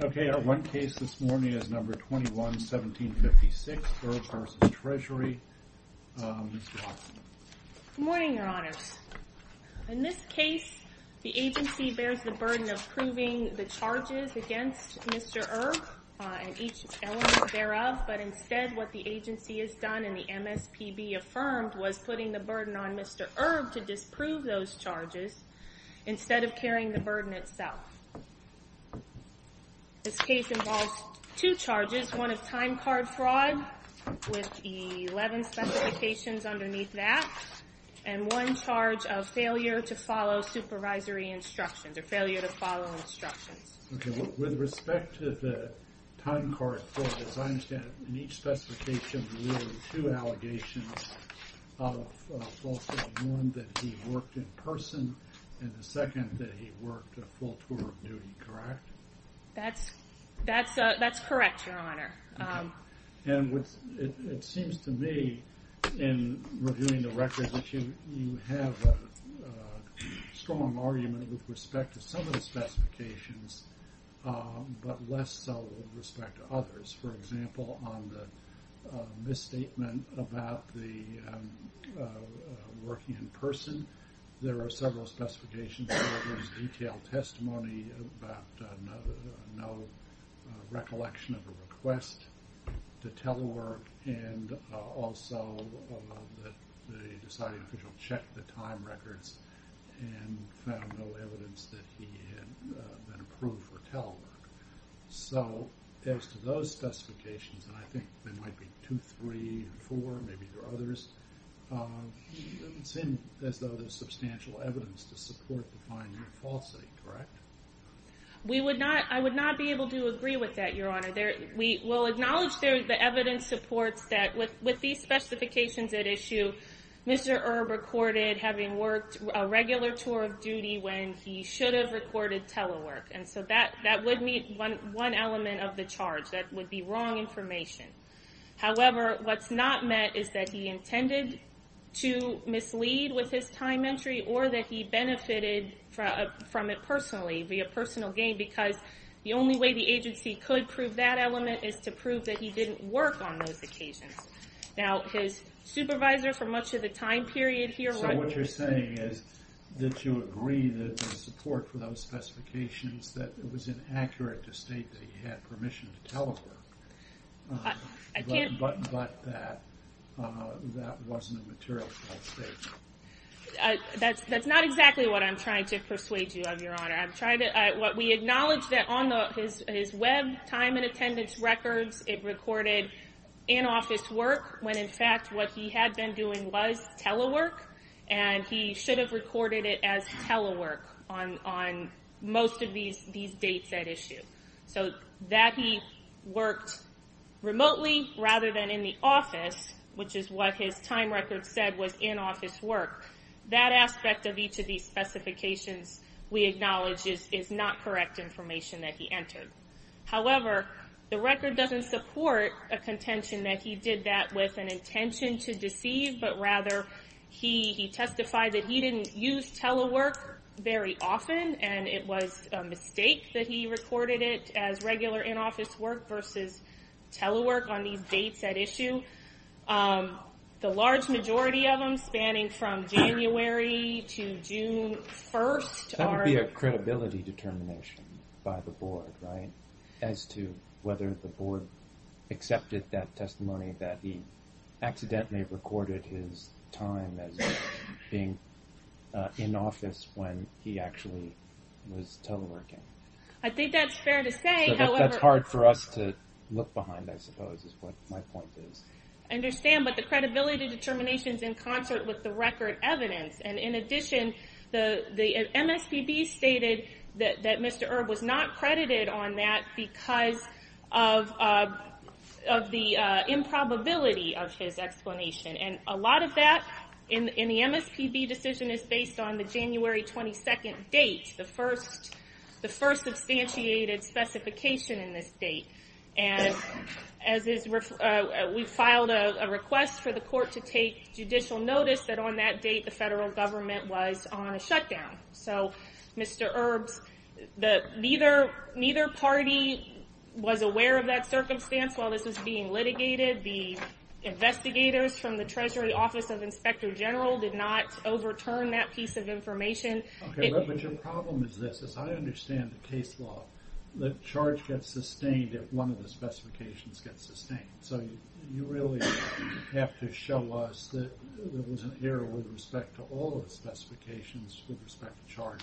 Okay, our one case this morning is number 21-1756, Erb v. Treasury. Good morning, Your Honors. In this case, the agency bears the burden of proving the charges against Mr. Erb and each element thereof, but instead what the agency has done and the MSPB affirmed was putting the burden on Mr. Erb to disprove those charges instead of carrying the burden itself. This case involves two charges, one of time card fraud with the 11 specifications underneath that and one charge of failure to follow supervisory instructions or failure to follow instructions. Okay, with respect to the time card fraud, as I understand it, in each specification there were two allegations of falsehood, one that he worked in person and the second that he worked a full tour of duty, correct? That's correct, Your Honor. And it seems to me in reviewing the records that you have a strong argument with respect to some of the specifications but less so with respect to others. For example, on the misstatement about the working in person, there are several specifications that there was detailed testimony about no recollection of a request to telework and also that the deciding official checked the time records and found no evidence that he had been approved for telework. So as to those specifications, and I think there might be two, three, four, maybe there are others, it doesn't seem as though there's substantial evidence to support the finding of falsity, correct? We would not, I would not be able to agree with that, Your Honor. We will acknowledge the evidence supports that with these specifications at issue, Mr. Erb recorded having worked a regular tour of duty when he should have recorded telework and so that would meet one element of the charge, that would be wrong information. However, what's not met is that he intended to mislead with his time entry or that he benefited from it personally, via personal gain, because the only way the agency could prove that element is to prove that he didn't work on those occasions. Now his supervisor for much of the time period here... So what you're saying is that you agree that the support for those specifications, that it was inaccurate to state that he had permission to telework, but that wasn't a material statement. That's not exactly what I'm trying to persuade you of, Your Honor. We acknowledge that on his web time and attendance records, it recorded in-office work, when in fact what he had been doing was telework, and he should have recorded it as telework on most of these dates at issue. So that he worked remotely rather than in the office, which is what his time record said was in-office work, that aspect of each of these specifications we acknowledge is not correct information that he entered. However, the record doesn't support a contention that he did that with an intention to deceive, but rather he testified that he didn't use telework very often, and it was a mistake that he recorded it as regular in-office work versus telework on these dates at issue. The large majority of them spanning from January to June 1st are... That would be a credibility determination by the board, right, as to whether the board accepted that testimony that he accidentally recorded his time as being in-office when he actually was teleworking. I think that's fair to say, however... That's hard for us to look behind, I suppose, is what my point is. I understand, but the credibility determination's in concert with the record evidence, and in addition, the MSPB stated that Mr. Erb was not credited on that because of the improbability of his explanation. And a lot of that in the MSPB decision is based on the January 22nd date, the first substantiated specification in this date. And we filed a request for the court to take judicial notice that on that date the federal government was on a shutdown. So Mr. Erb's... Neither party was aware of that circumstance while this was being litigated. The investigators from the Treasury Office of Inspector General did not overturn that piece of information. Okay, but your problem is this. As I understand the case law, the charge gets sustained if one of the specifications gets sustained. So you really have to show us that there was an error with respect to all of the specifications with respect to charge.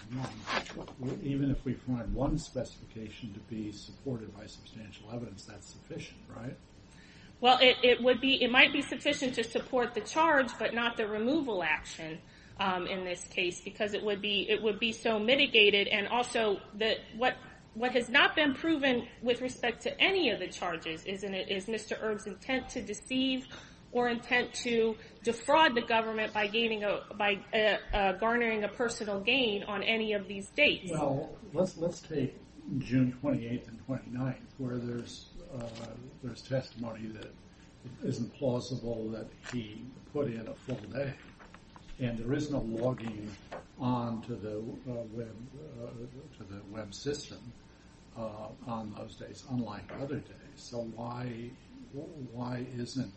Even if we find one specification to be supported by substantial evidence, that's sufficient, right? Well, it might be sufficient to support the charge, but not the removal action in this case because it would be so mitigated. And also, what has not been proven with respect to any of the charges is Mr. Erb's intent to deceive or intent to defraud the government by garnering a personal gain on any of these dates. Well, let's take June 28th and 29th where there's testimony that isn't plausible that he put in a full day. And there is no logging on to the web system on those days, unlike other days. So why isn't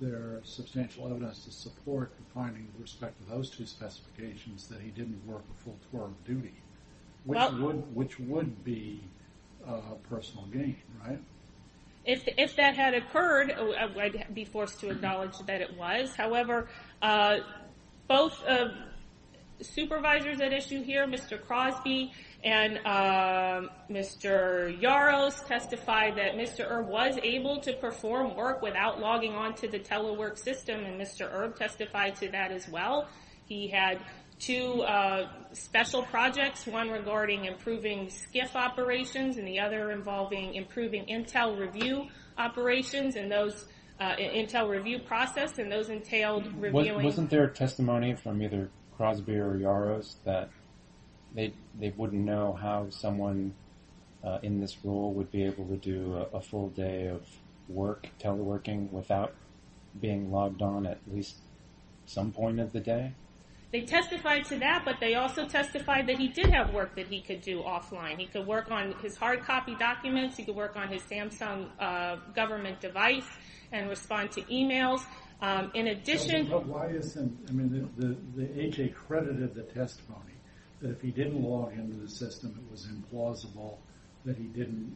there substantial evidence to support the finding with respect to those two specifications that he didn't work a full tour of duty? Which would be a personal gain, right? If that had occurred, I'd be forced to acknowledge that it was. However, both supervisors at issue here, Mr. Crosby and Mr. Yaros, testified that Mr. Erb was able to perform work without logging on to the telework system. And Mr. Erb testified to that as well. He had two special projects, one regarding improving SCIF operations and the other involving improving Intel review operations and those Intel review process and those entailed reviewing... They testified to that, but they also testified that he did have work that he could do offline. He could work on his hard copy documents, he could work on his Samsung government device and respond to emails. In addition... But why isn't... I mean, the A.J. credited the testimony that if he didn't log into the system, it was implausible that he didn't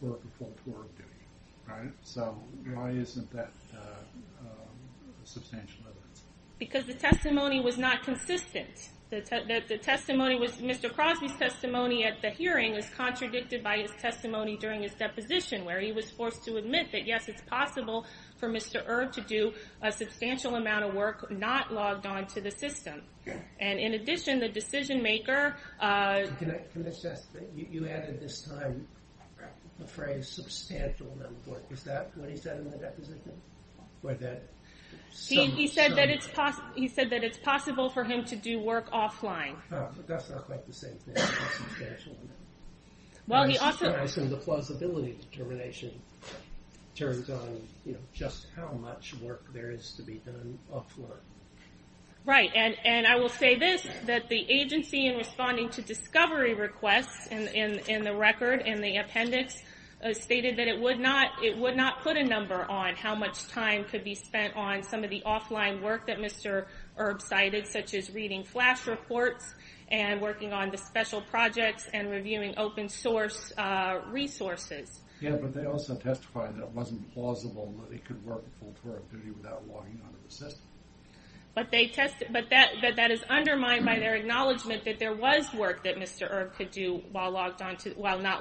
work a full tour of duty, right? So, why isn't that substantial evidence? Because the testimony was not consistent. The testimony was... Mr. Crosby's testimony at the hearing is contradicted by his testimony during his deposition where he was forced to admit that yes, it's possible for Mr. Erb to do a substantial amount of work not logged on to the system. And in addition, the decision maker... You added this time the phrase substantial amount of work. Is that what he said in the deposition? He said that it's possible for him to do work offline. That's not quite the same thing. Well, he also... The plausibility determination turns on just how much work there is to be done offline. Right. And I will say this, that the agency in responding to discovery requests in the record, in the appendix, stated that it would not put a number on how much time could be spent on some of the offline work that Mr. Erb cited, such as reading flash reports and working on the special projects and reviewing open source resources. Yeah, but they also testified that it wasn't plausible that he could work full productivity without logging on to the system. But that is undermined by their acknowledgement that there was work that Mr. Erb could do while not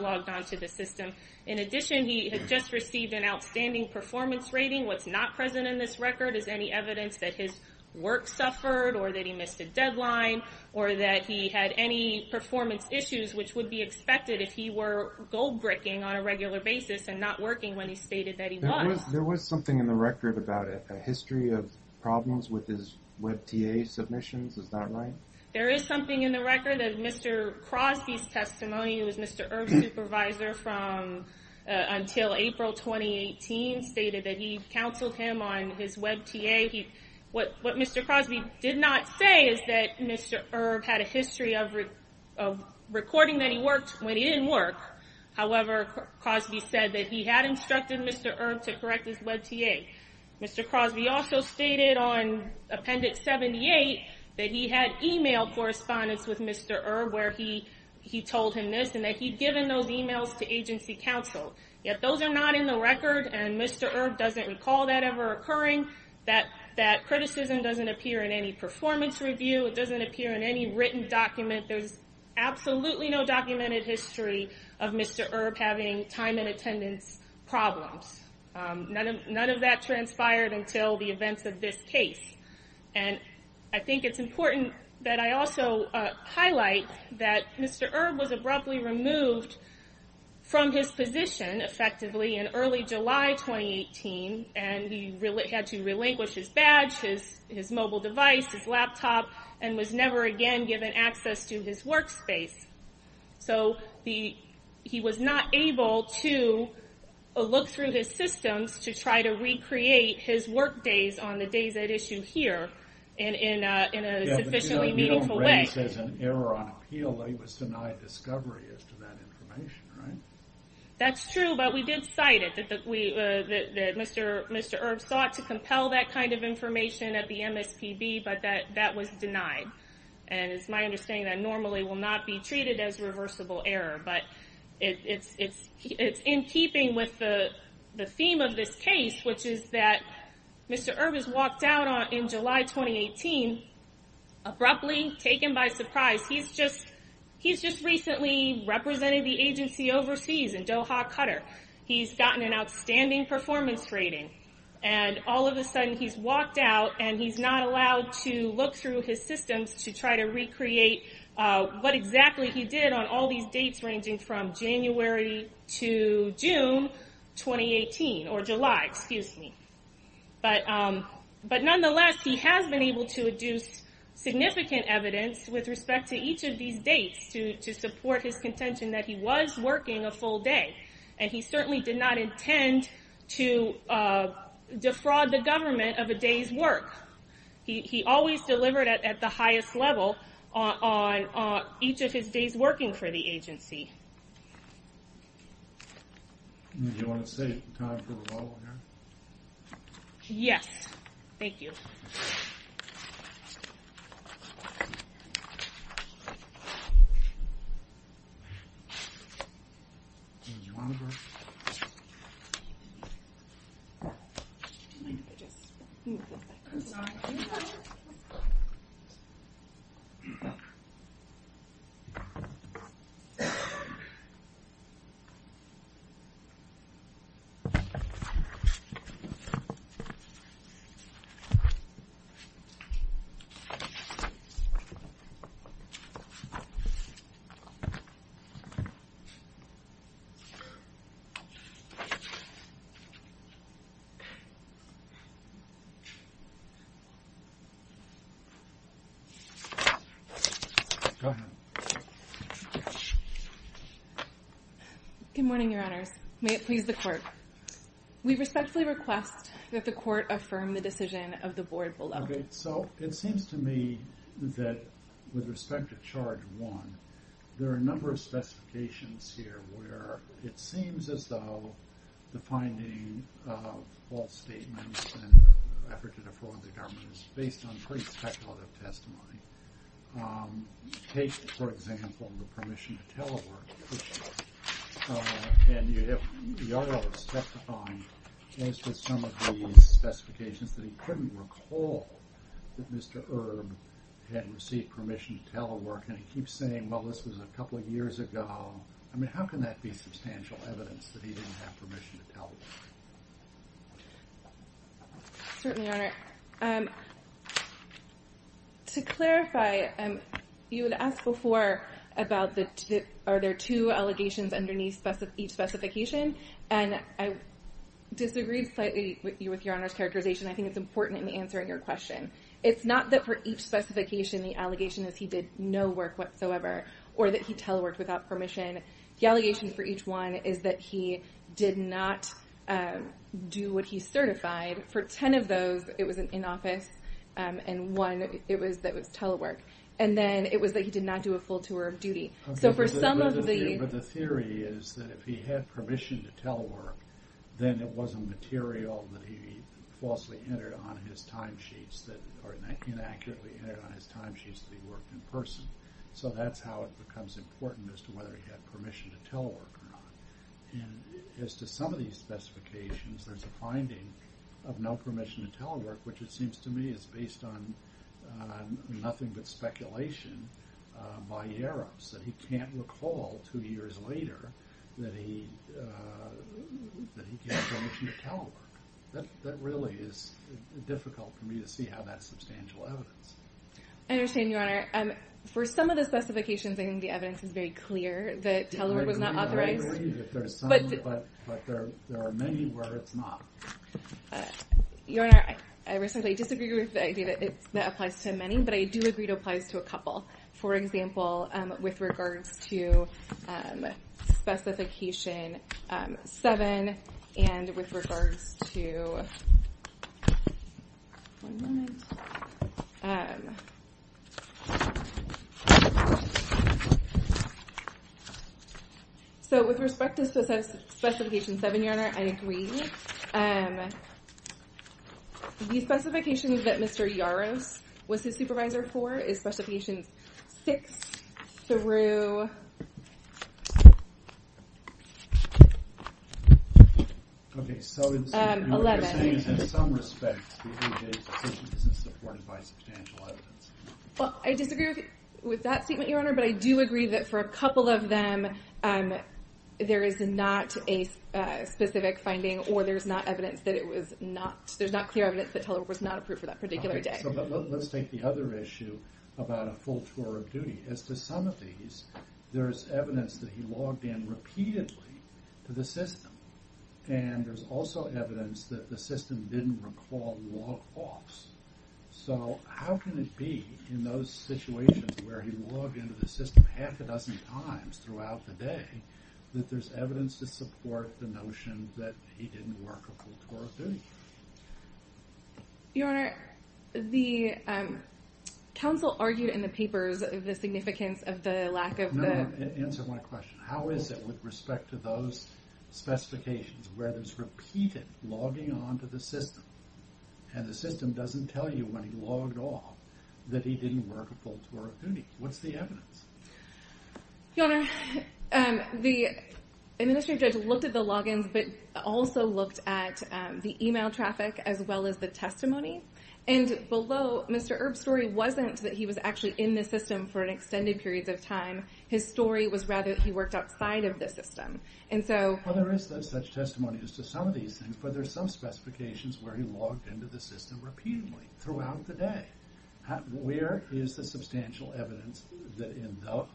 logged on to the system. In addition, he had just received an outstanding performance rating. What's not present in this record is any evidence that his work suffered or that he missed a deadline or that he had any performance issues, which would be expected if he were gold-bricking on a regular basis and not working when he stated that he was. There was something in the record about a history of problems with his WebTA submissions. Is that right? There is something in the record that Mr. Crosby's testimony, who was Mr. Erb's supervisor until April 2018, stated that he counseled him on his WebTA. What Mr. Crosby did not say is that Mr. Erb had a history of recording that he worked when he didn't work. However, Crosby said that he had instructed Mr. Erb to correct his WebTA. Mr. Crosby also stated on Appendix 78 that he had emailed correspondence with Mr. Erb where he told him this, and that he'd given those emails to agency counsel. Yet those are not in the record, and Mr. Erb doesn't recall that ever occurring. That criticism doesn't appear in any performance review. It doesn't appear in any written document. There's absolutely no documented history of Mr. Erb having time and attendance problems. None of that transpired until the events of this case. I think it's important that I also highlight that Mr. Erb was abruptly removed from his position, effectively, in early July 2018. He had to relinquish his badge, his mobile device, his laptop, and was never again given access to his workspace. So he was not able to look through his systems to try to recreate his work days on the days at issue here in a sufficiently meaningful way. Yeah, but you don't raise as an error on appeal that he was denied discovery as to that information, right? That's true, but we did cite it, that Mr. Erb sought to compel that kind of information at the MSPB, but that was denied. And it's my understanding that normally will not be treated as reversible error, but it's in keeping with the theme of this case, which is that Mr. Erb is walked out in July 2018 abruptly, taken by surprise. He's just recently represented the agency overseas in Doha, Qatar. He's gotten an outstanding performance rating, and all of a sudden he's walked out and he's not allowed to look through his systems to try to recreate what exactly he did on all these dates ranging from January to June 2018, or July, excuse me. But nonetheless, he has been able to deduce significant evidence with respect to each of these dates to support his contention that he was working a full day. And he certainly did not intend to defraud the government of a day's work. He always delivered at the highest level on each of his days working for the agency. Do you want to save time for rebuttal here? Yes, thank you. Thank you. Good morning, Your Honors. May it please the Court. We respectfully request that the Court affirm the decision of the Board below. Okay, so it seems to me that with respect to charge one, there are a number of specifications here where it seems as though the finding of false statements and effort to defraud the government is based on pretty speculative testimony. Take, for example, the permission to telework question. And the Article is specifying as to some of the specifications that he couldn't recall that Mr. Erb had received permission to telework. And he keeps saying, well, this was a couple of years ago. I mean, how can that be substantial evidence that he didn't have permission to telework? Certainly, Your Honor. To clarify, you had asked before about are there two allegations underneath each specification. And I disagreed slightly with Your Honor's characterization. I think it's important in answering your question. It's not that for each specification the allegation is he did no work whatsoever or that he teleworked without permission. The allegation for each one is that he did not do what he certified. For ten of those, it was in office. And one, it was that it was telework. And then it was that he did not do a full tour of duty. But the theory is that if he had permission to telework, then it wasn't material that he falsely entered on his timesheets or inaccurately entered on his timesheets that he worked in person. So that's how it becomes important as to whether he had permission to telework or not. And as to some of these specifications, there's a finding of no permission to telework, which it seems to me is based on nothing but speculation by Eros, that he can't recall two years later that he had permission to telework. That really is difficult for me to see how that's substantial evidence. I understand, Your Honor. For some of the specifications, I think the evidence is very clear that telework was not authorized. I believe that there's some, but there are many where it's not. Your Honor, I respectfully disagree with the idea that that applies to many, but I do agree it applies to a couple. For example, with regards to Specification 7 and with regards to – one moment. So with respect to Specification 7, Your Honor, I agree. The specifications that Mr. Eros was his supervisor for is Specification 6 through 11. Okay, so what you're saying is in some respects, these are decisions that are supported by substantial evidence. Well, I disagree with that statement, Your Honor, but I do agree that for a couple of them, there is not a specific finding or there's not evidence that it was not – there's not clear evidence that telework was not approved for that particular day. Let's take the other issue about a full tour of duty. As to some of these, there's evidence that he logged in repeatedly to the system, and there's also evidence that the system didn't recall log-offs. So how can it be in those situations where he logged into the system half a dozen times throughout the day that there's evidence to support the notion that he didn't work a full tour of duty? Your Honor, the counsel argued in the papers the significance of the lack of the – No, answer my question. How is it with respect to those specifications where there's repeated logging on to the system and the system doesn't tell you when he logged off that he didn't work a full tour of duty? What's the evidence? Your Honor, the administrative judge looked at the log-ins but also looked at the email traffic as well as the testimony. And below, Mr. Erb's story wasn't that he was actually in the system for an extended period of time. His story was rather that he worked outside of the system. Well, there is such testimony as to some of these things, but there's some specifications where he logged into the system repeatedly throughout the day. Where is the substantial evidence that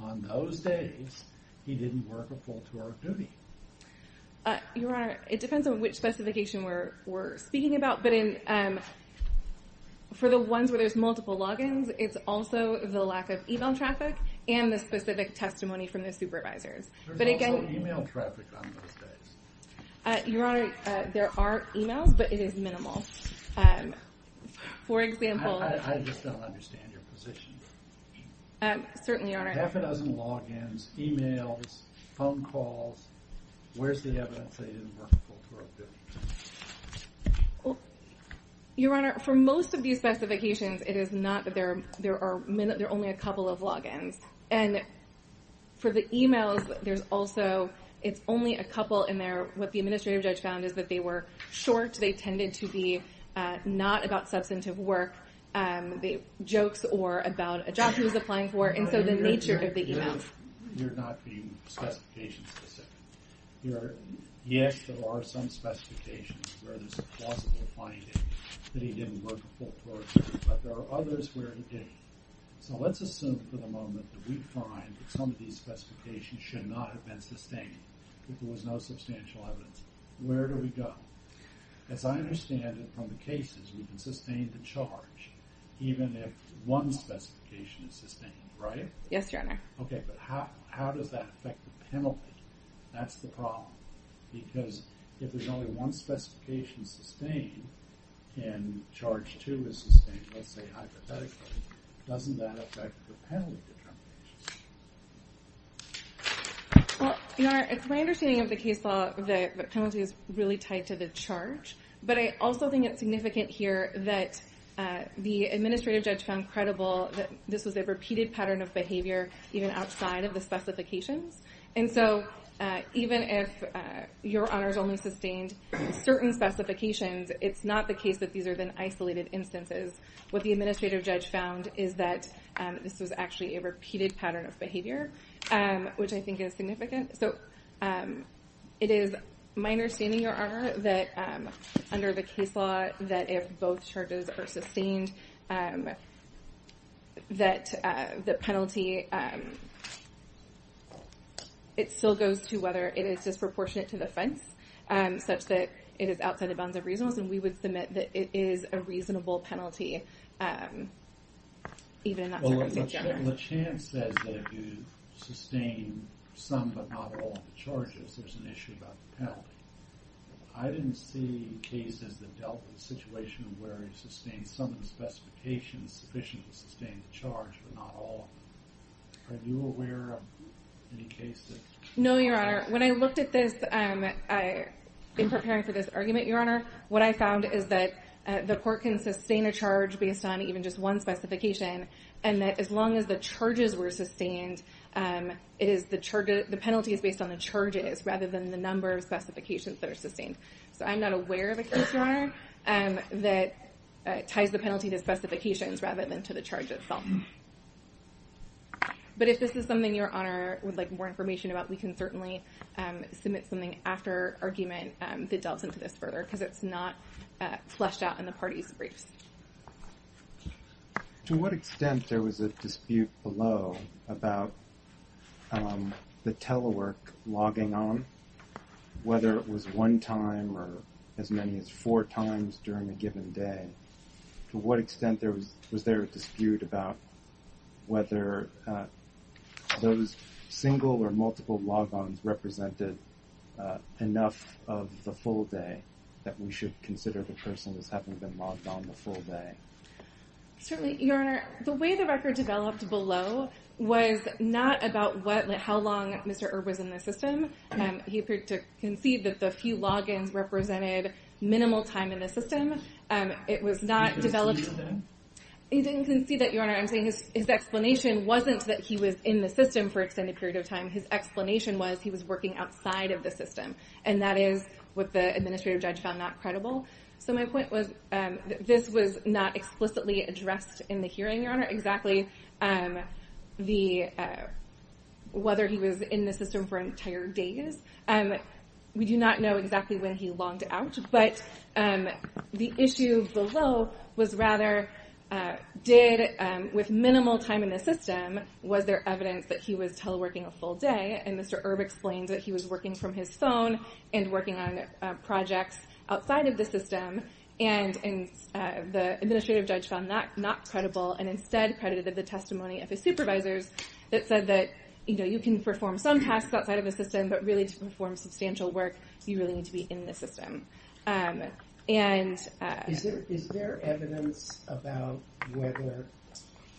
on those days he didn't work a full tour of duty? Your Honor, it depends on which specification we're speaking about, but for the ones where there's multiple log-ins, it's also the lack of email traffic and the specific testimony from the supervisors. There's also email traffic on those days. Your Honor, there are emails, but it is minimal. I just don't understand your position. Certainly, Your Honor. Half a dozen log-ins, emails, phone calls. Where's the evidence that he didn't work a full tour of duty? Your Honor, for most of these specifications, it is not that there are only a couple of log-ins. And for the emails, there's also it's only a couple in there. What the administrative judge found is that they were short. They tended to be not about substantive work, jokes, or about a job he was applying for, and so the nature of the emails. Your Honor, you're not being specification-specific. Yes, there are some specifications where there's plausible finding that he didn't work a full tour of duty, but there are others where he didn't. So let's assume for the moment that we find that some of these specifications should not have been sustained, that there was no substantial evidence. Where do we go? As I understand it from the cases, we can sustain the charge even if one specification is sustained, right? Yes, Your Honor. Okay, but how does that affect the penalty? That's the problem, because if there's only one specification sustained and charge two is sustained, let's say hypothetically, doesn't that affect the penalty? Well, Your Honor, it's my understanding of the case law that the penalty is really tied to the charge, but I also think it's significant here that the administrative judge found credible that this was a repeated pattern of behavior even outside of the specifications. And so even if Your Honor's only sustained certain specifications, it's not the case that these are then isolated instances. What the administrative judge found is that this was actually a repeated pattern of behavior, which I think is significant. So it is my understanding, Your Honor, that under the case law that if both charges are sustained, that the penalty, it still goes to whether it is disproportionate to the offense, such that it is outside the bounds of reasonableness, and we would submit that it is a reasonable penalty even in that circumstance, Your Honor. LeChan says that if you sustain some but not all charges, there's an issue about the penalty. I didn't see cases that dealt with the situation where you sustained some of the specifications sufficient to sustain the charge but not all. Are you aware of any cases? No, Your Honor. When I looked at this in preparing for this argument, Your Honor, what I found is that the court can sustain a charge based on even just one specification, and that as long as the charges were sustained, the penalty is based on the charges rather than the number of specifications that are sustained. So I'm not aware of a case, Your Honor, that ties the penalty to specifications rather than to the charge itself. But if this is something Your Honor would like more information about, we can certainly submit something after argument that delves into this further because it's not fleshed out in the parties' briefs. To what extent there was a dispute below about the telework logging on, whether it was one time or as many as four times during a given day? To what extent was there a dispute about whether those single or multiple log-ons represented enough of the full day that we should consider the person as having been logged on the full day? Certainly, Your Honor. The way the record developed below was not about how long Mr. Erb was in the system. He appeared to concede that the few log-ins represented minimal time in the system. He didn't concede that? He didn't concede that, Your Honor. I'm saying his explanation wasn't that he was in the system for an extended period of time. His explanation was he was working outside of the system, and that is what the administrative judge found not credible. So my point was that this was not explicitly addressed in the hearing, Your Honor, exactly whether he was in the system for entire days. We do not know exactly when he logged out, but the issue below was rather did with minimal time in the system, was there evidence that he was teleworking a full day? And Mr. Erb explained that he was working from his phone and working on projects outside of the system, and the administrative judge found that not credible and instead credited the testimony of his supervisors that said that, you know, you can perform some tasks outside of the system, but really to perform substantial work, you really need to be in the system. Is there evidence about whether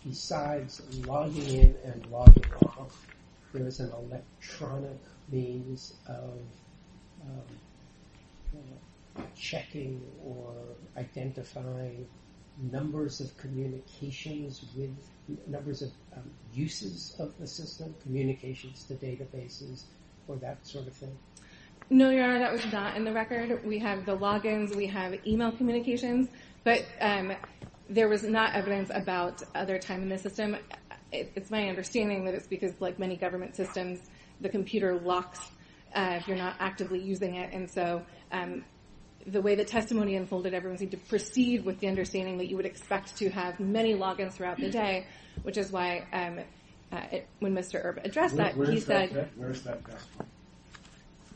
besides logging in and logging off, there was an electronic means of checking or identifying numbers of communications with numbers of uses of the system, communications to databases or that sort of thing? No, Your Honor, that was not in the record. We have the logins, we have email communications, but there was not evidence about other time in the system. It's my understanding that it's because like many government systems, the computer locks if you're not actively using it, and so the way the testimony unfolded, everyone seemed to proceed with the understanding that you would expect to have many logins throughout the day, which is why when Mr. Erb addressed that, he said— Where is that testimony?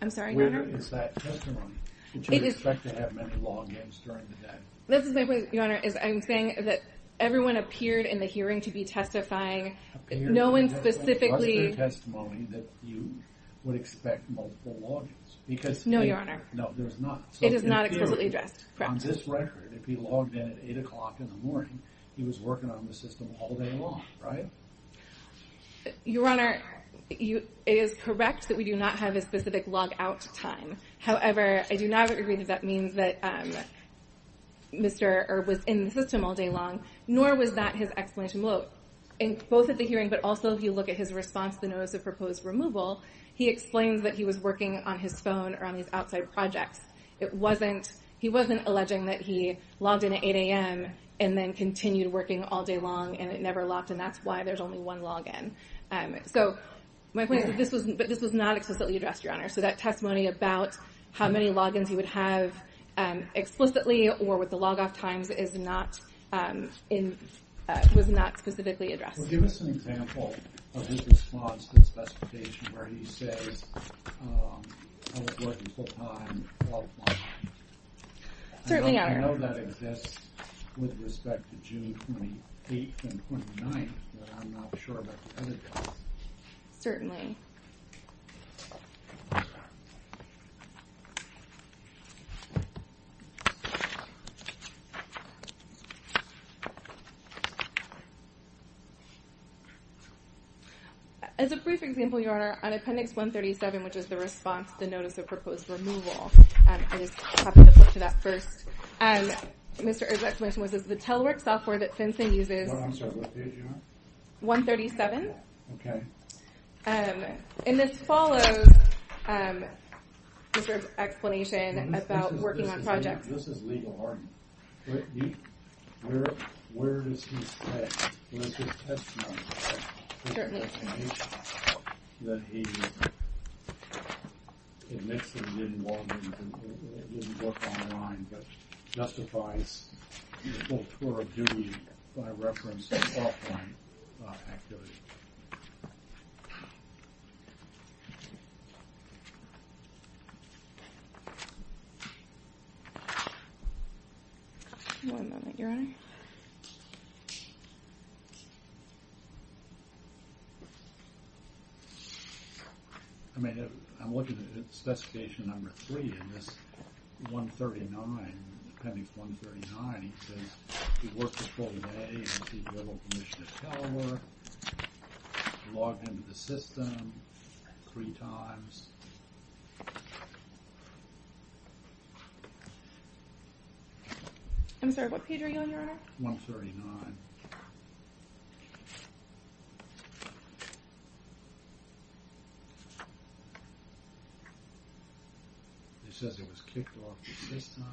I'm sorry, Your Honor? Where is that testimony? This is my point, Your Honor, is I'm saying that everyone appeared in the hearing to be testifying. No one specifically— Appeared to have a cluster testimony that you would expect multiple logins because— No, Your Honor. No, there's not. It is not explicitly addressed. On this record, if he logged in at 8 o'clock in the morning, he was working on the system all day long, right? Your Honor, it is correct that we do not have a specific logout time. However, I do not agree that that means that Mr. Erb was in the system all day long, nor was that his explanation. Both at the hearing, but also if you look at his response to the notice of proposed removal, he explains that he was working on his phone or on his outside projects. He wasn't alleging that he logged in at 8 a.m. and then continued working all day long and it never locked, and that's why there's only one login. So my point is that this was not explicitly addressed, Your Honor. So that testimony about how many logins he would have explicitly or with the logout times is not—was not specifically addressed. Well, give us an example of his response to the specification where he says, I was working full time, 12 o'clock. Certainly, Your Honor. I know that exists with respect to June 28th and 29th, but I'm not sure about the other days. Certainly. Okay. As a brief example, Your Honor, on Appendix 137, which is the response to the notice of proposed removal, I just happen to flip to that first. Mr. Erb's explanation was that the telework software that FinCEN uses— I'm sorry, what page are you on? 137. Okay. And this follows Mr. Erb's explanation about working on projects. This is legal argument. Where does he say in his testimony that he admits that he didn't log in, didn't work online, but justifies his full tour of duty by reference to offline activity? I'm looking at Specification Number 3 in this 139, Appendix 139. It says he worked the full day, received verbal permission to telework, logged into the system three times. I'm sorry, what page are you on, Your Honor? 139. It says he was kicked off the system.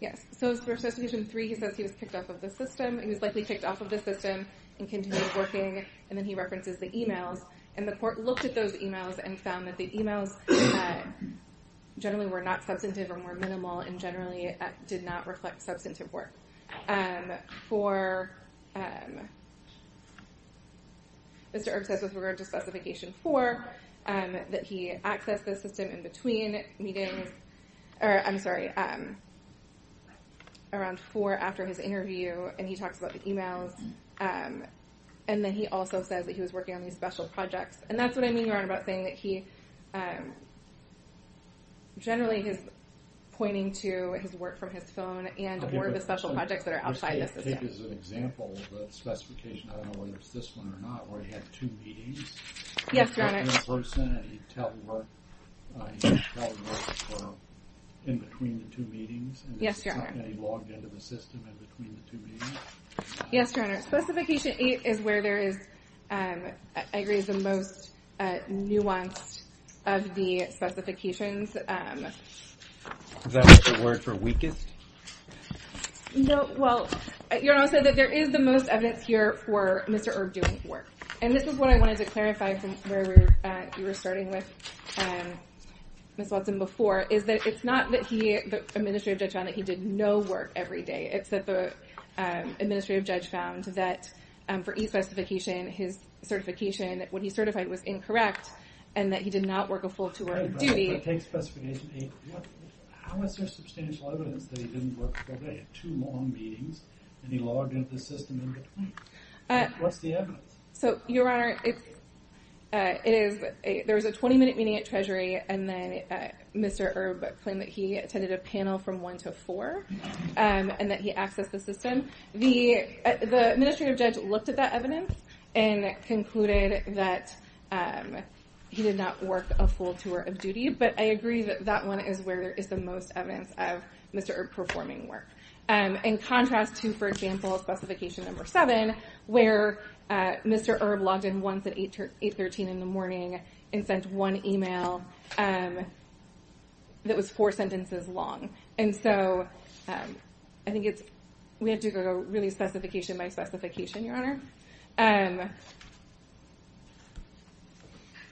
Yes. So for Specification 3, he says he was kicked off of the system. He was likely kicked off of the system and continued working, and then he references the emails. And the court looked at those emails and found that the emails generally were not substantive and were minimal and generally did not reflect substantive work. Mr. Erb says, with regard to Specification 4, that he accessed the system in between meetings— or, I'm sorry, around 4 after his interview, and he talks about the emails. And then he also says that he was working on these special projects. And that's what I mean, Your Honor, about saying that he generally is pointing to his work from his phone and or the special projects that are outside the system. Okay, but take as an example the specifications, I don't know whether it's this one or not, where he had two meetings. Yes, Your Honor. He was talking to a person and he teleworked in between the two meetings. Yes, Your Honor. And he logged into the system in between the two meetings. Yes, Your Honor. Specification 8 is where there is, I agree, the most nuanced of the specifications. Is that the word for weakest? No, well, Your Honor, I'll say that there is the most evidence here for Mr. Erb doing work. And this is what I wanted to clarify from where you were starting with, Ms. Watson, before, is that it's not that he— the administrative judge found that he did no work every day. It's that the administrative judge found that for each specification, his certification, what he certified was incorrect and that he did not work a full tour of duty. Okay, but take specification 8. How is there substantial evidence that he didn't work the whole day? Two long meetings and he logged into the system in between. What's the evidence? So, Your Honor, it is— there was a 20-minute meeting at Treasury and then Mr. Erb claimed that he attended a panel from 1 to 4 and that he accessed the system. The administrative judge looked at that evidence and concluded that he did not work a full tour of duty, but I agree that that one is where there is the most evidence of Mr. Erb performing work. In contrast to, for example, specification number 7, where Mr. Erb logged in once at 8.13 in the morning and sent one email that was four sentences long. And so, I think it's— we have to go really specification by specification, Your Honor.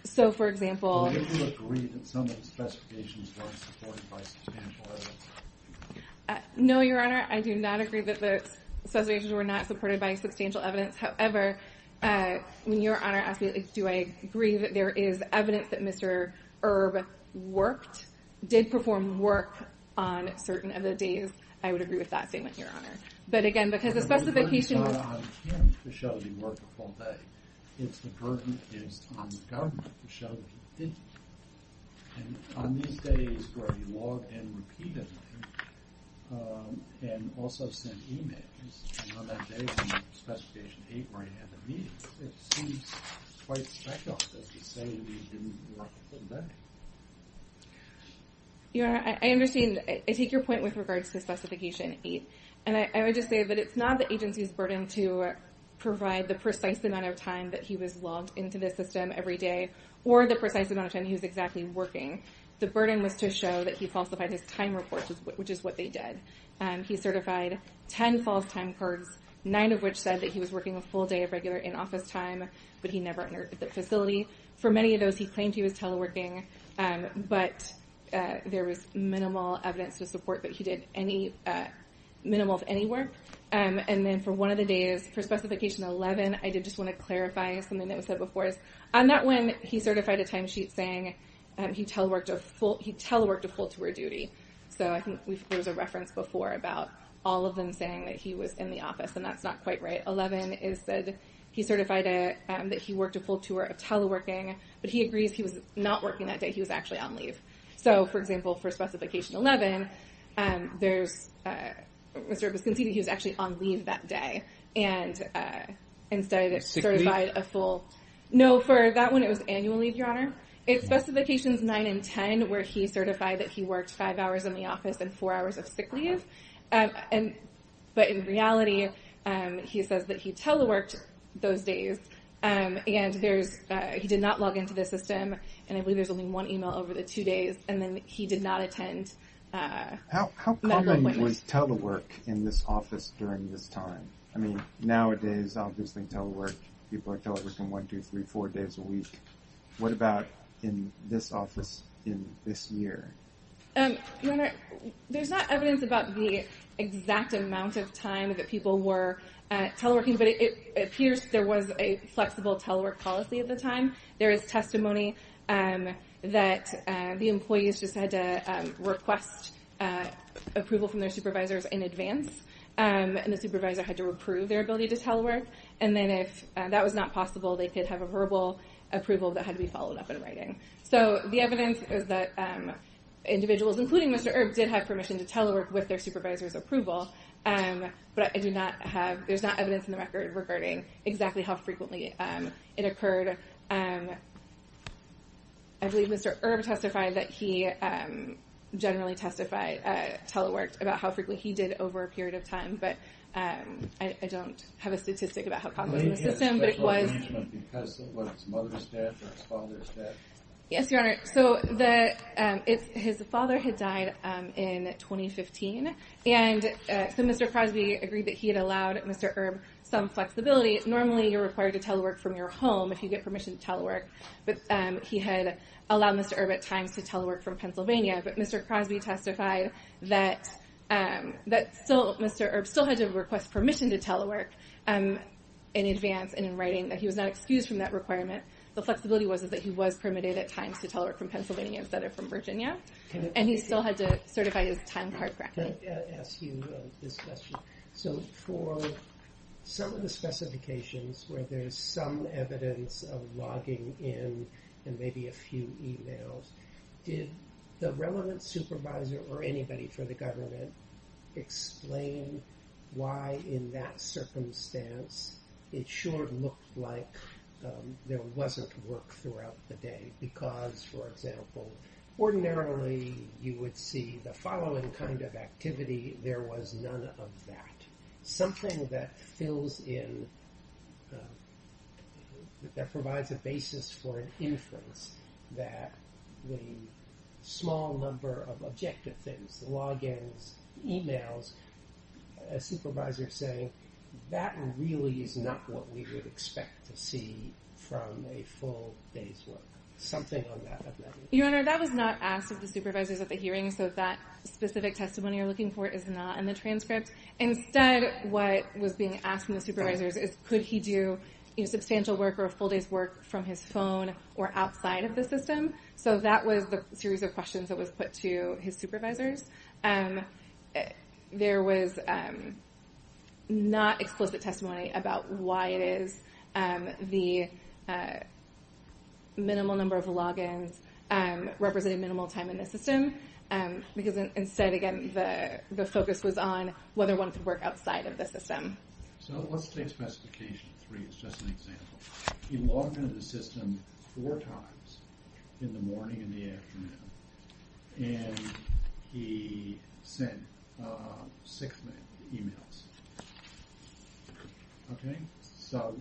So, for example— Do you agree that some of the specifications were supported by substantial evidence? No, Your Honor. I do not agree that the specifications were not supported by substantial evidence. However, when Your Honor asked me, do I agree that there is evidence that Mr. Erb worked, did perform work on certain of the days, I would agree with that statement, Your Honor. But again, because the specification was— But the burden is not on him to show he worked a full day. It's the burden is on the government to show he didn't. And on these days where he logged in repeatedly and also sent emails, and on that day from specification 8 where he had the meetings, it seems quite special that he's saying he didn't work a full day. Your Honor, I understand— I take your point with regards to specification 8. And I would just say that it's not the agency's burden to provide the precise amount of time that he was logged into the system every day or the precise amount of time he was exactly working. The burden was to show that he falsified his time reports, which is what they did. He certified 10 false time cards, nine of which said that he was working a full day of regular in-office time, but he never entered the facility. For many of those, he claimed he was teleworking, but there was minimal evidence to support that he did minimal of any work. And then for one of the days, for specification 11, I did just want to clarify something that was said before. On that one, he certified a timesheet saying he teleworked a full tour of duty. So I think there was a reference before about all of them saying that he was in the office, and that's not quite right. Specification 11 is that he certified that he worked a full tour of teleworking, but he agrees he was not working that day. He was actually on leave. So, for example, for specification 11, it was conceded he was actually on leave that day and instead certified a full... Sick leave? No, for that one, it was annual leave, Your Honor. In specifications 9 and 10, where he certified that he worked five hours in the office and four hours of sick leave, but in reality, he says that he teleworked those days and he did not log into the system, and I believe there's only one email over the two days, and then he did not attend... How common was telework in this office during this time? I mean, nowadays, obviously, telework, people are teleworking one, two, three, four days a week. What about in this office in this year? Your Honor, there's not evidence about the exact amount of time that people were teleworking, but it appears there was a flexible telework policy at the time. There is testimony that the employees just had to request approval from their supervisors in advance, and the supervisor had to approve their ability to telework, and then if that was not possible, they could have a verbal approval that had to be followed up in writing. So the evidence is that individuals, including Mr. Erb, did have permission to telework with their supervisor's approval, but I do not have... There's not evidence in the record regarding exactly how frequently it occurred. I believe Mr. Erb testified that he generally teleworked about how frequently he did over a period of time, but I don't have a statistic about how common it was to him, but it was... Yes, Your Honor, so his father had died in 2015, and so Mr. Crosby agreed that he had allowed Mr. Erb some flexibility. Normally you're required to telework from your home if you get permission to telework, but he had allowed Mr. Erb at times to telework from Pennsylvania, but Mr. Crosby testified that Mr. Erb still had to request permission to telework in advance and in writing, that he was not excused from that requirement. The flexibility was that he was permitted at times to telework from Pennsylvania instead of from Virginia, and he still had to certify his time card correctly. Can I ask you this question? So for some of the specifications where there's some evidence of logging in and maybe a few e-mails, did the relevant supervisor or anybody for the government explain why in that circumstance it sure looked like there wasn't work throughout the day? Because, for example, ordinarily you would see the following kind of activity. There was none of that. Something that fills in, that provides a basis for an inference the logins, e-mails, a supervisor saying, that really is not what we would expect to see from a full day's work. Something on that. Your Honor, that was not asked of the supervisors at the hearing, so that specific testimony you're looking for is not in the transcript. Instead, what was being asked of the supervisors is, could he do substantial work or a full day's work from his phone or outside of the system? So that was the series of questions that was put to his supervisors. There was not explicit testimony about why it is the minimal number of logins represented minimal time in the system. Because instead, again, the focus was on whether one could work outside of the system. So let's take specification three as just an example. He logged into the system four times in the morning and the afternoon. And he sent six emails. So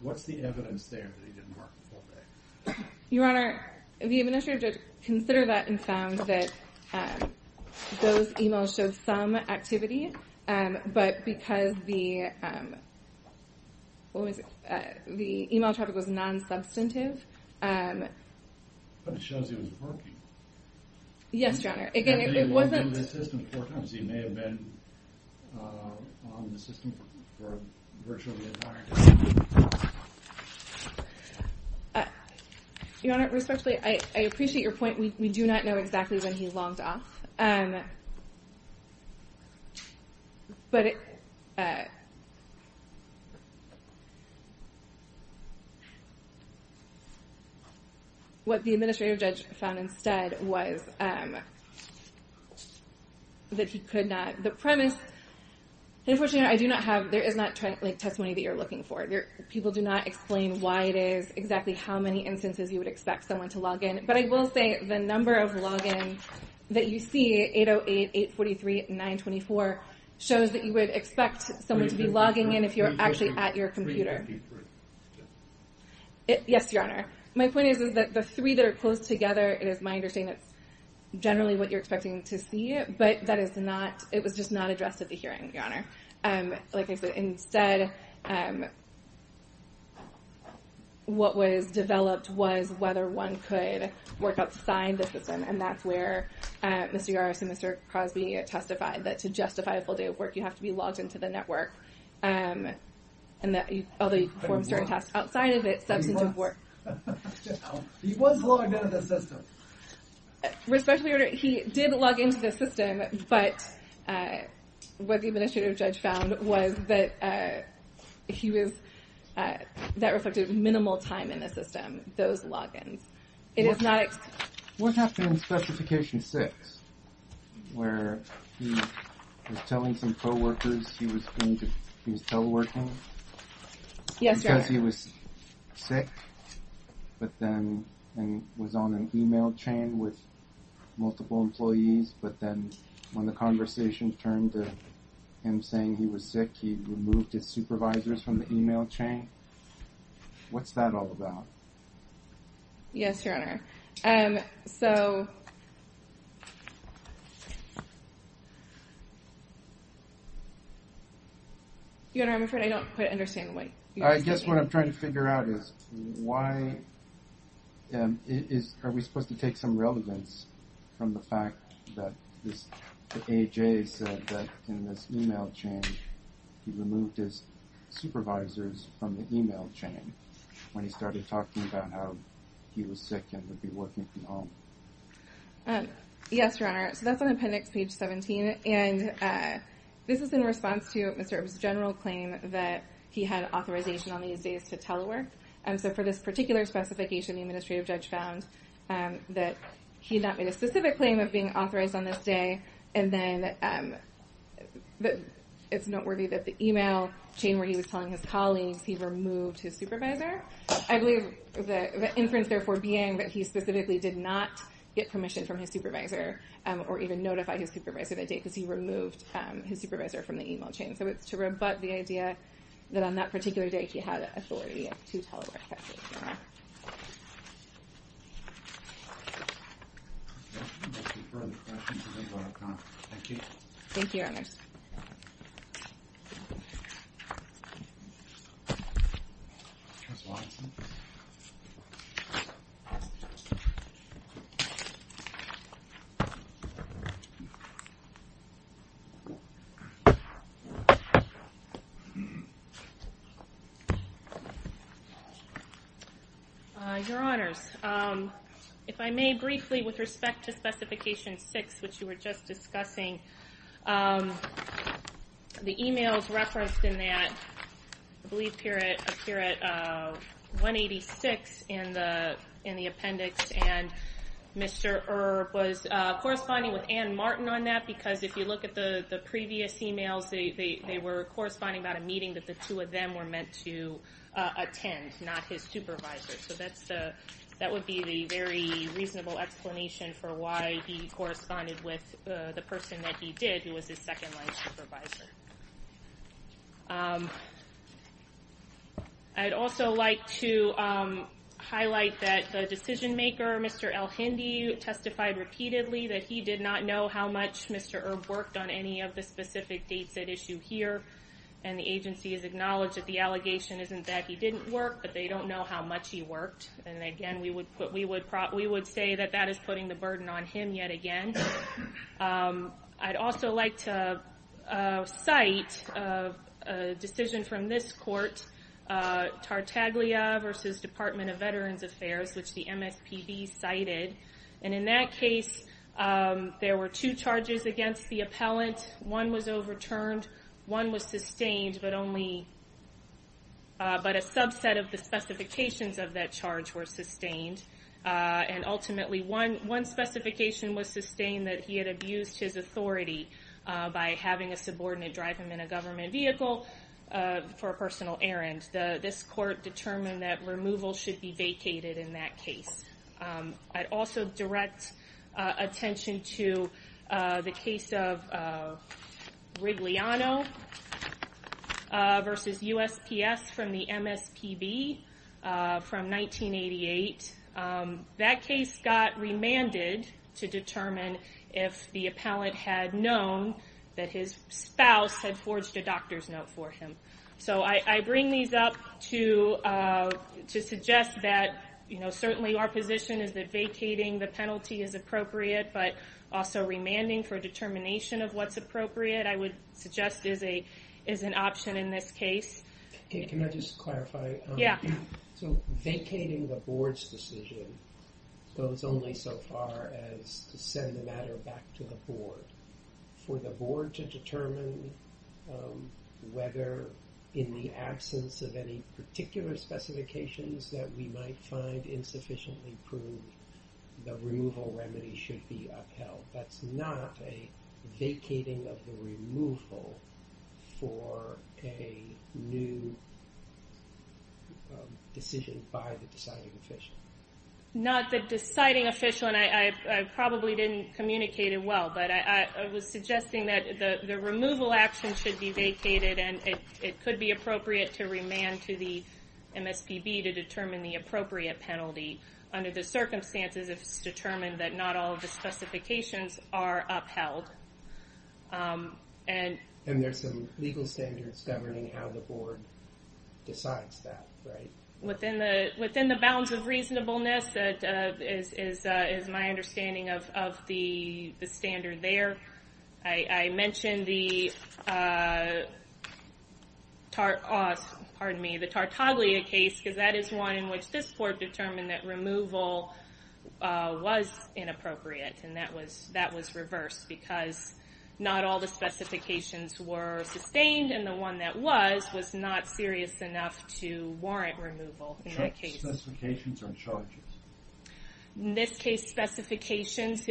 what's the evidence there that he didn't work the full day? Your Honor, the administrative judge considered that and found that those emails showed some activity, but because the email traffic was non-substantive, But it shows he was working. Yes, Your Honor. And he logged into the system four times. He may have been on the system for virtually an entire day. Your Honor, respectfully, I appreciate your point. We do not know exactly when he logged off. What the administrative judge found instead was that he could not... The premise... Unfortunately, I do not have... There is not testimony that you're looking for. People do not explain why it is, exactly how many instances you would expect someone to log in. But I will say the number of logins that you see, 808-843-924, shows that you would expect someone to be logging in if you're actually at your computer. Yes, Your Honor. My point is that the three that are close together, it is my understanding that's generally what you're expecting to see, but that is not... It was just not addressed at the hearing, Your Honor. Like I said, instead, what was developed was whether one could work outside the system, and that's where Mr. Yaros and Mr. Cosby testified that to justify a full day of work, you have to be logged into the network. Although you perform certain tasks outside of it, substantive work... He was logged into the system. Respectfully, Your Honor, he did log into the system, but what the administrative judge found was that he was... that reflected minimal time in the system, those logins. It is not... What happened in Specification 6, where he was telling some co-workers he was teleworking... Yes, Your Honor. ...because he was sick, but then was on an email chain with multiple employees, but then when the conversation turned to him saying he was sick, he removed his supervisors from the email chain. What's that all about? Yes, Your Honor. So... Your Honor, I'm afraid I don't quite understand what... I guess what I'm trying to figure out is why are we supposed to take some relevance from the fact that the AHA said that in this email chain, he removed his supervisors from the email chain when he started talking about how he was sick and would be working from home. Yes, Your Honor. So that's on Appendix Page 17, and this is in response to Mr. Ebb's general claim that he had authorization on these days to telework. So for this particular specification, the administrative judge found that he had not made a specific claim of being authorized on this day, and then it's noteworthy that the email chain where he was telling his colleagues he removed his supervisor. I believe the inference therefore being that he specifically did not get permission from his supervisor or even notify his supervisor that day because he removed his supervisor from the email chain. So it's to rebut the idea that on that particular day he had authority to telework. That's it, Your Honor. Okay. We'll defer the questions until we run out of time. Thank you. Thank you, Your Honor. Ms. Watson. Your Honors, if I may briefly, with respect to Specification 6, which you were just discussing, the email is referenced in that, I believe here at 186 in the appendix, and Mr. Ebb was corresponding with Ann Martin on that because Ann was the one who was talking about because if you look at the previous emails, they were corresponding about a meeting that the two of them were meant to attend, not his supervisor. So that would be the very reasonable explanation for why he corresponded with the person that he did, who was his second-line supervisor. I'd also like to highlight that the decision-maker, Mr. El-Hindi, testified repeatedly that he did not know how much Mr. Ebb worked on any of the specific dates at issue here, and the agency has acknowledged that the allegation isn't that he didn't work, but they don't know how much he worked. And again, we would say that that is putting the burden on him yet again. I'd also like to cite a decision from this court, Tartaglia v. Department of Veterans Affairs, which the MSPB cited. And in that case, there were two charges against the appellant. One was overturned, one was sustained, but a subset of the specifications of that charge were sustained. And ultimately, one specification was sustained that he had abused his authority by having a subordinate drive him in a government vehicle for a personal errand. This court determined that removal should be vacated in that case. I'd also direct attention to the case of Rigliano v. USPS from the MSPB from 1988. That case got remanded to determine if the appellant had known that his spouse had forged a doctor's note for him. So I bring these up to suggest that, you know, certainly our position is that vacating the penalty is appropriate, but also remanding for determination of what's appropriate, I would suggest, is an option in this case. Can I just clarify? Yeah. So vacating the Board's decision goes only so far as to send the matter back to the Board. For the Board to determine whether, in the absence of any particular specifications that we might find insufficiently proved, the removal remedy should be upheld. That's not a vacating of the removal for a new decision by the deciding official. Not the deciding official, and I probably didn't communicate it well, but I was suggesting that the removal action should be vacated and it could be appropriate to remand to the MSPB to determine the appropriate penalty under the circumstances if it's determined that not all of the specifications are upheld. And there's some legal standards governing how the Board decides that, right? Within the bounds of reasonableness is my understanding of the standard there. I mentioned the Tartaglia case because that is one in which this Board determined that removal was inappropriate, and that was reversed because not all the specifications were sustained, and the one that was was not serious enough to warrant removal in that case. Specifications or charges? In this case, specifications.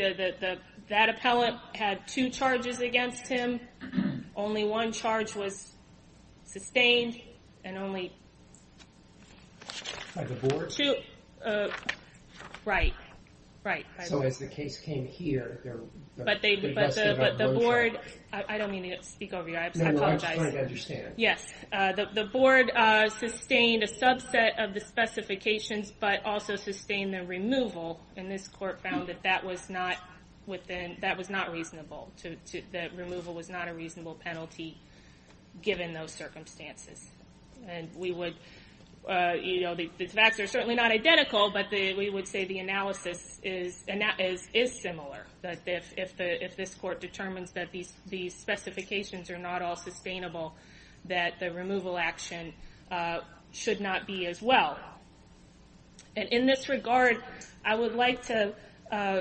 Only one charge was sustained and only two... By the Board? Right, right. So as the case came here... But the Board... I don't mean to speak over you. I apologize. No, no, I'm just trying to understand. Yes, the Board sustained a subset of the specifications but also sustained the removal, and this Court found that that was not reasonable. The removal was not a reasonable penalty given those circumstances. And we would... The facts are certainly not identical, but we would say the analysis is similar, that if this Court determines that these specifications are not all sustainable, that the removal action should not be as well. And in this regard, I would like to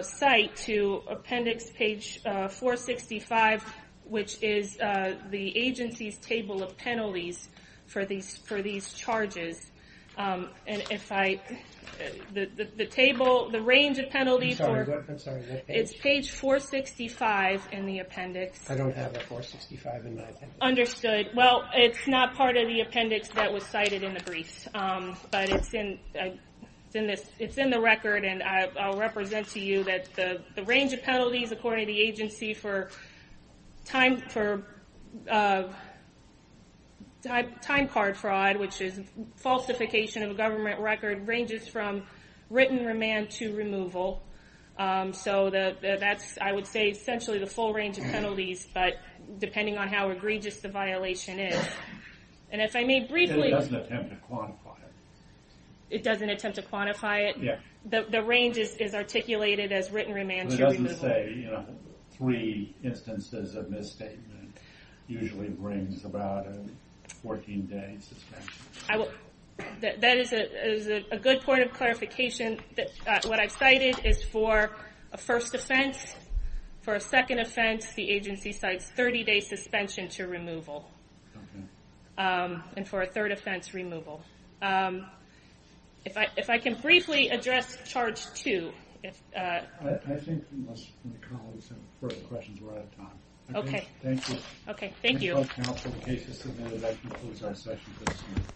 cite to appendix page 465, which is the agency's table of penalties for these charges. And if I... The range of penalties... I'm sorry, what page? It's page 465 in the appendix. I don't have that 465 in my appendix. Understood. Well, it's not part of the appendix that was cited in the brief. But it's in the record, and I'll represent to you that the range of penalties according to the agency for time card fraud, which is falsification of a government record, ranges from written remand to removal. So that's, I would say, essentially the full range of penalties, but depending on how egregious the violation is. And if I may briefly... It doesn't attempt to quantify it. It doesn't attempt to quantify it? Yeah. The range is articulated as written remand to removal. It doesn't say, you know, three instances of misstatement usually brings about a 14-day suspension. I will... That is a good point of clarification. What I've cited is for a first offense. For a second offense, the agency cites 30-day suspension to removal. Okay. And for a third offense, removal. If I can briefly address charge 2. I think we must move on to some further questions. We're out of time. Okay. Thank you. Okay, thank you.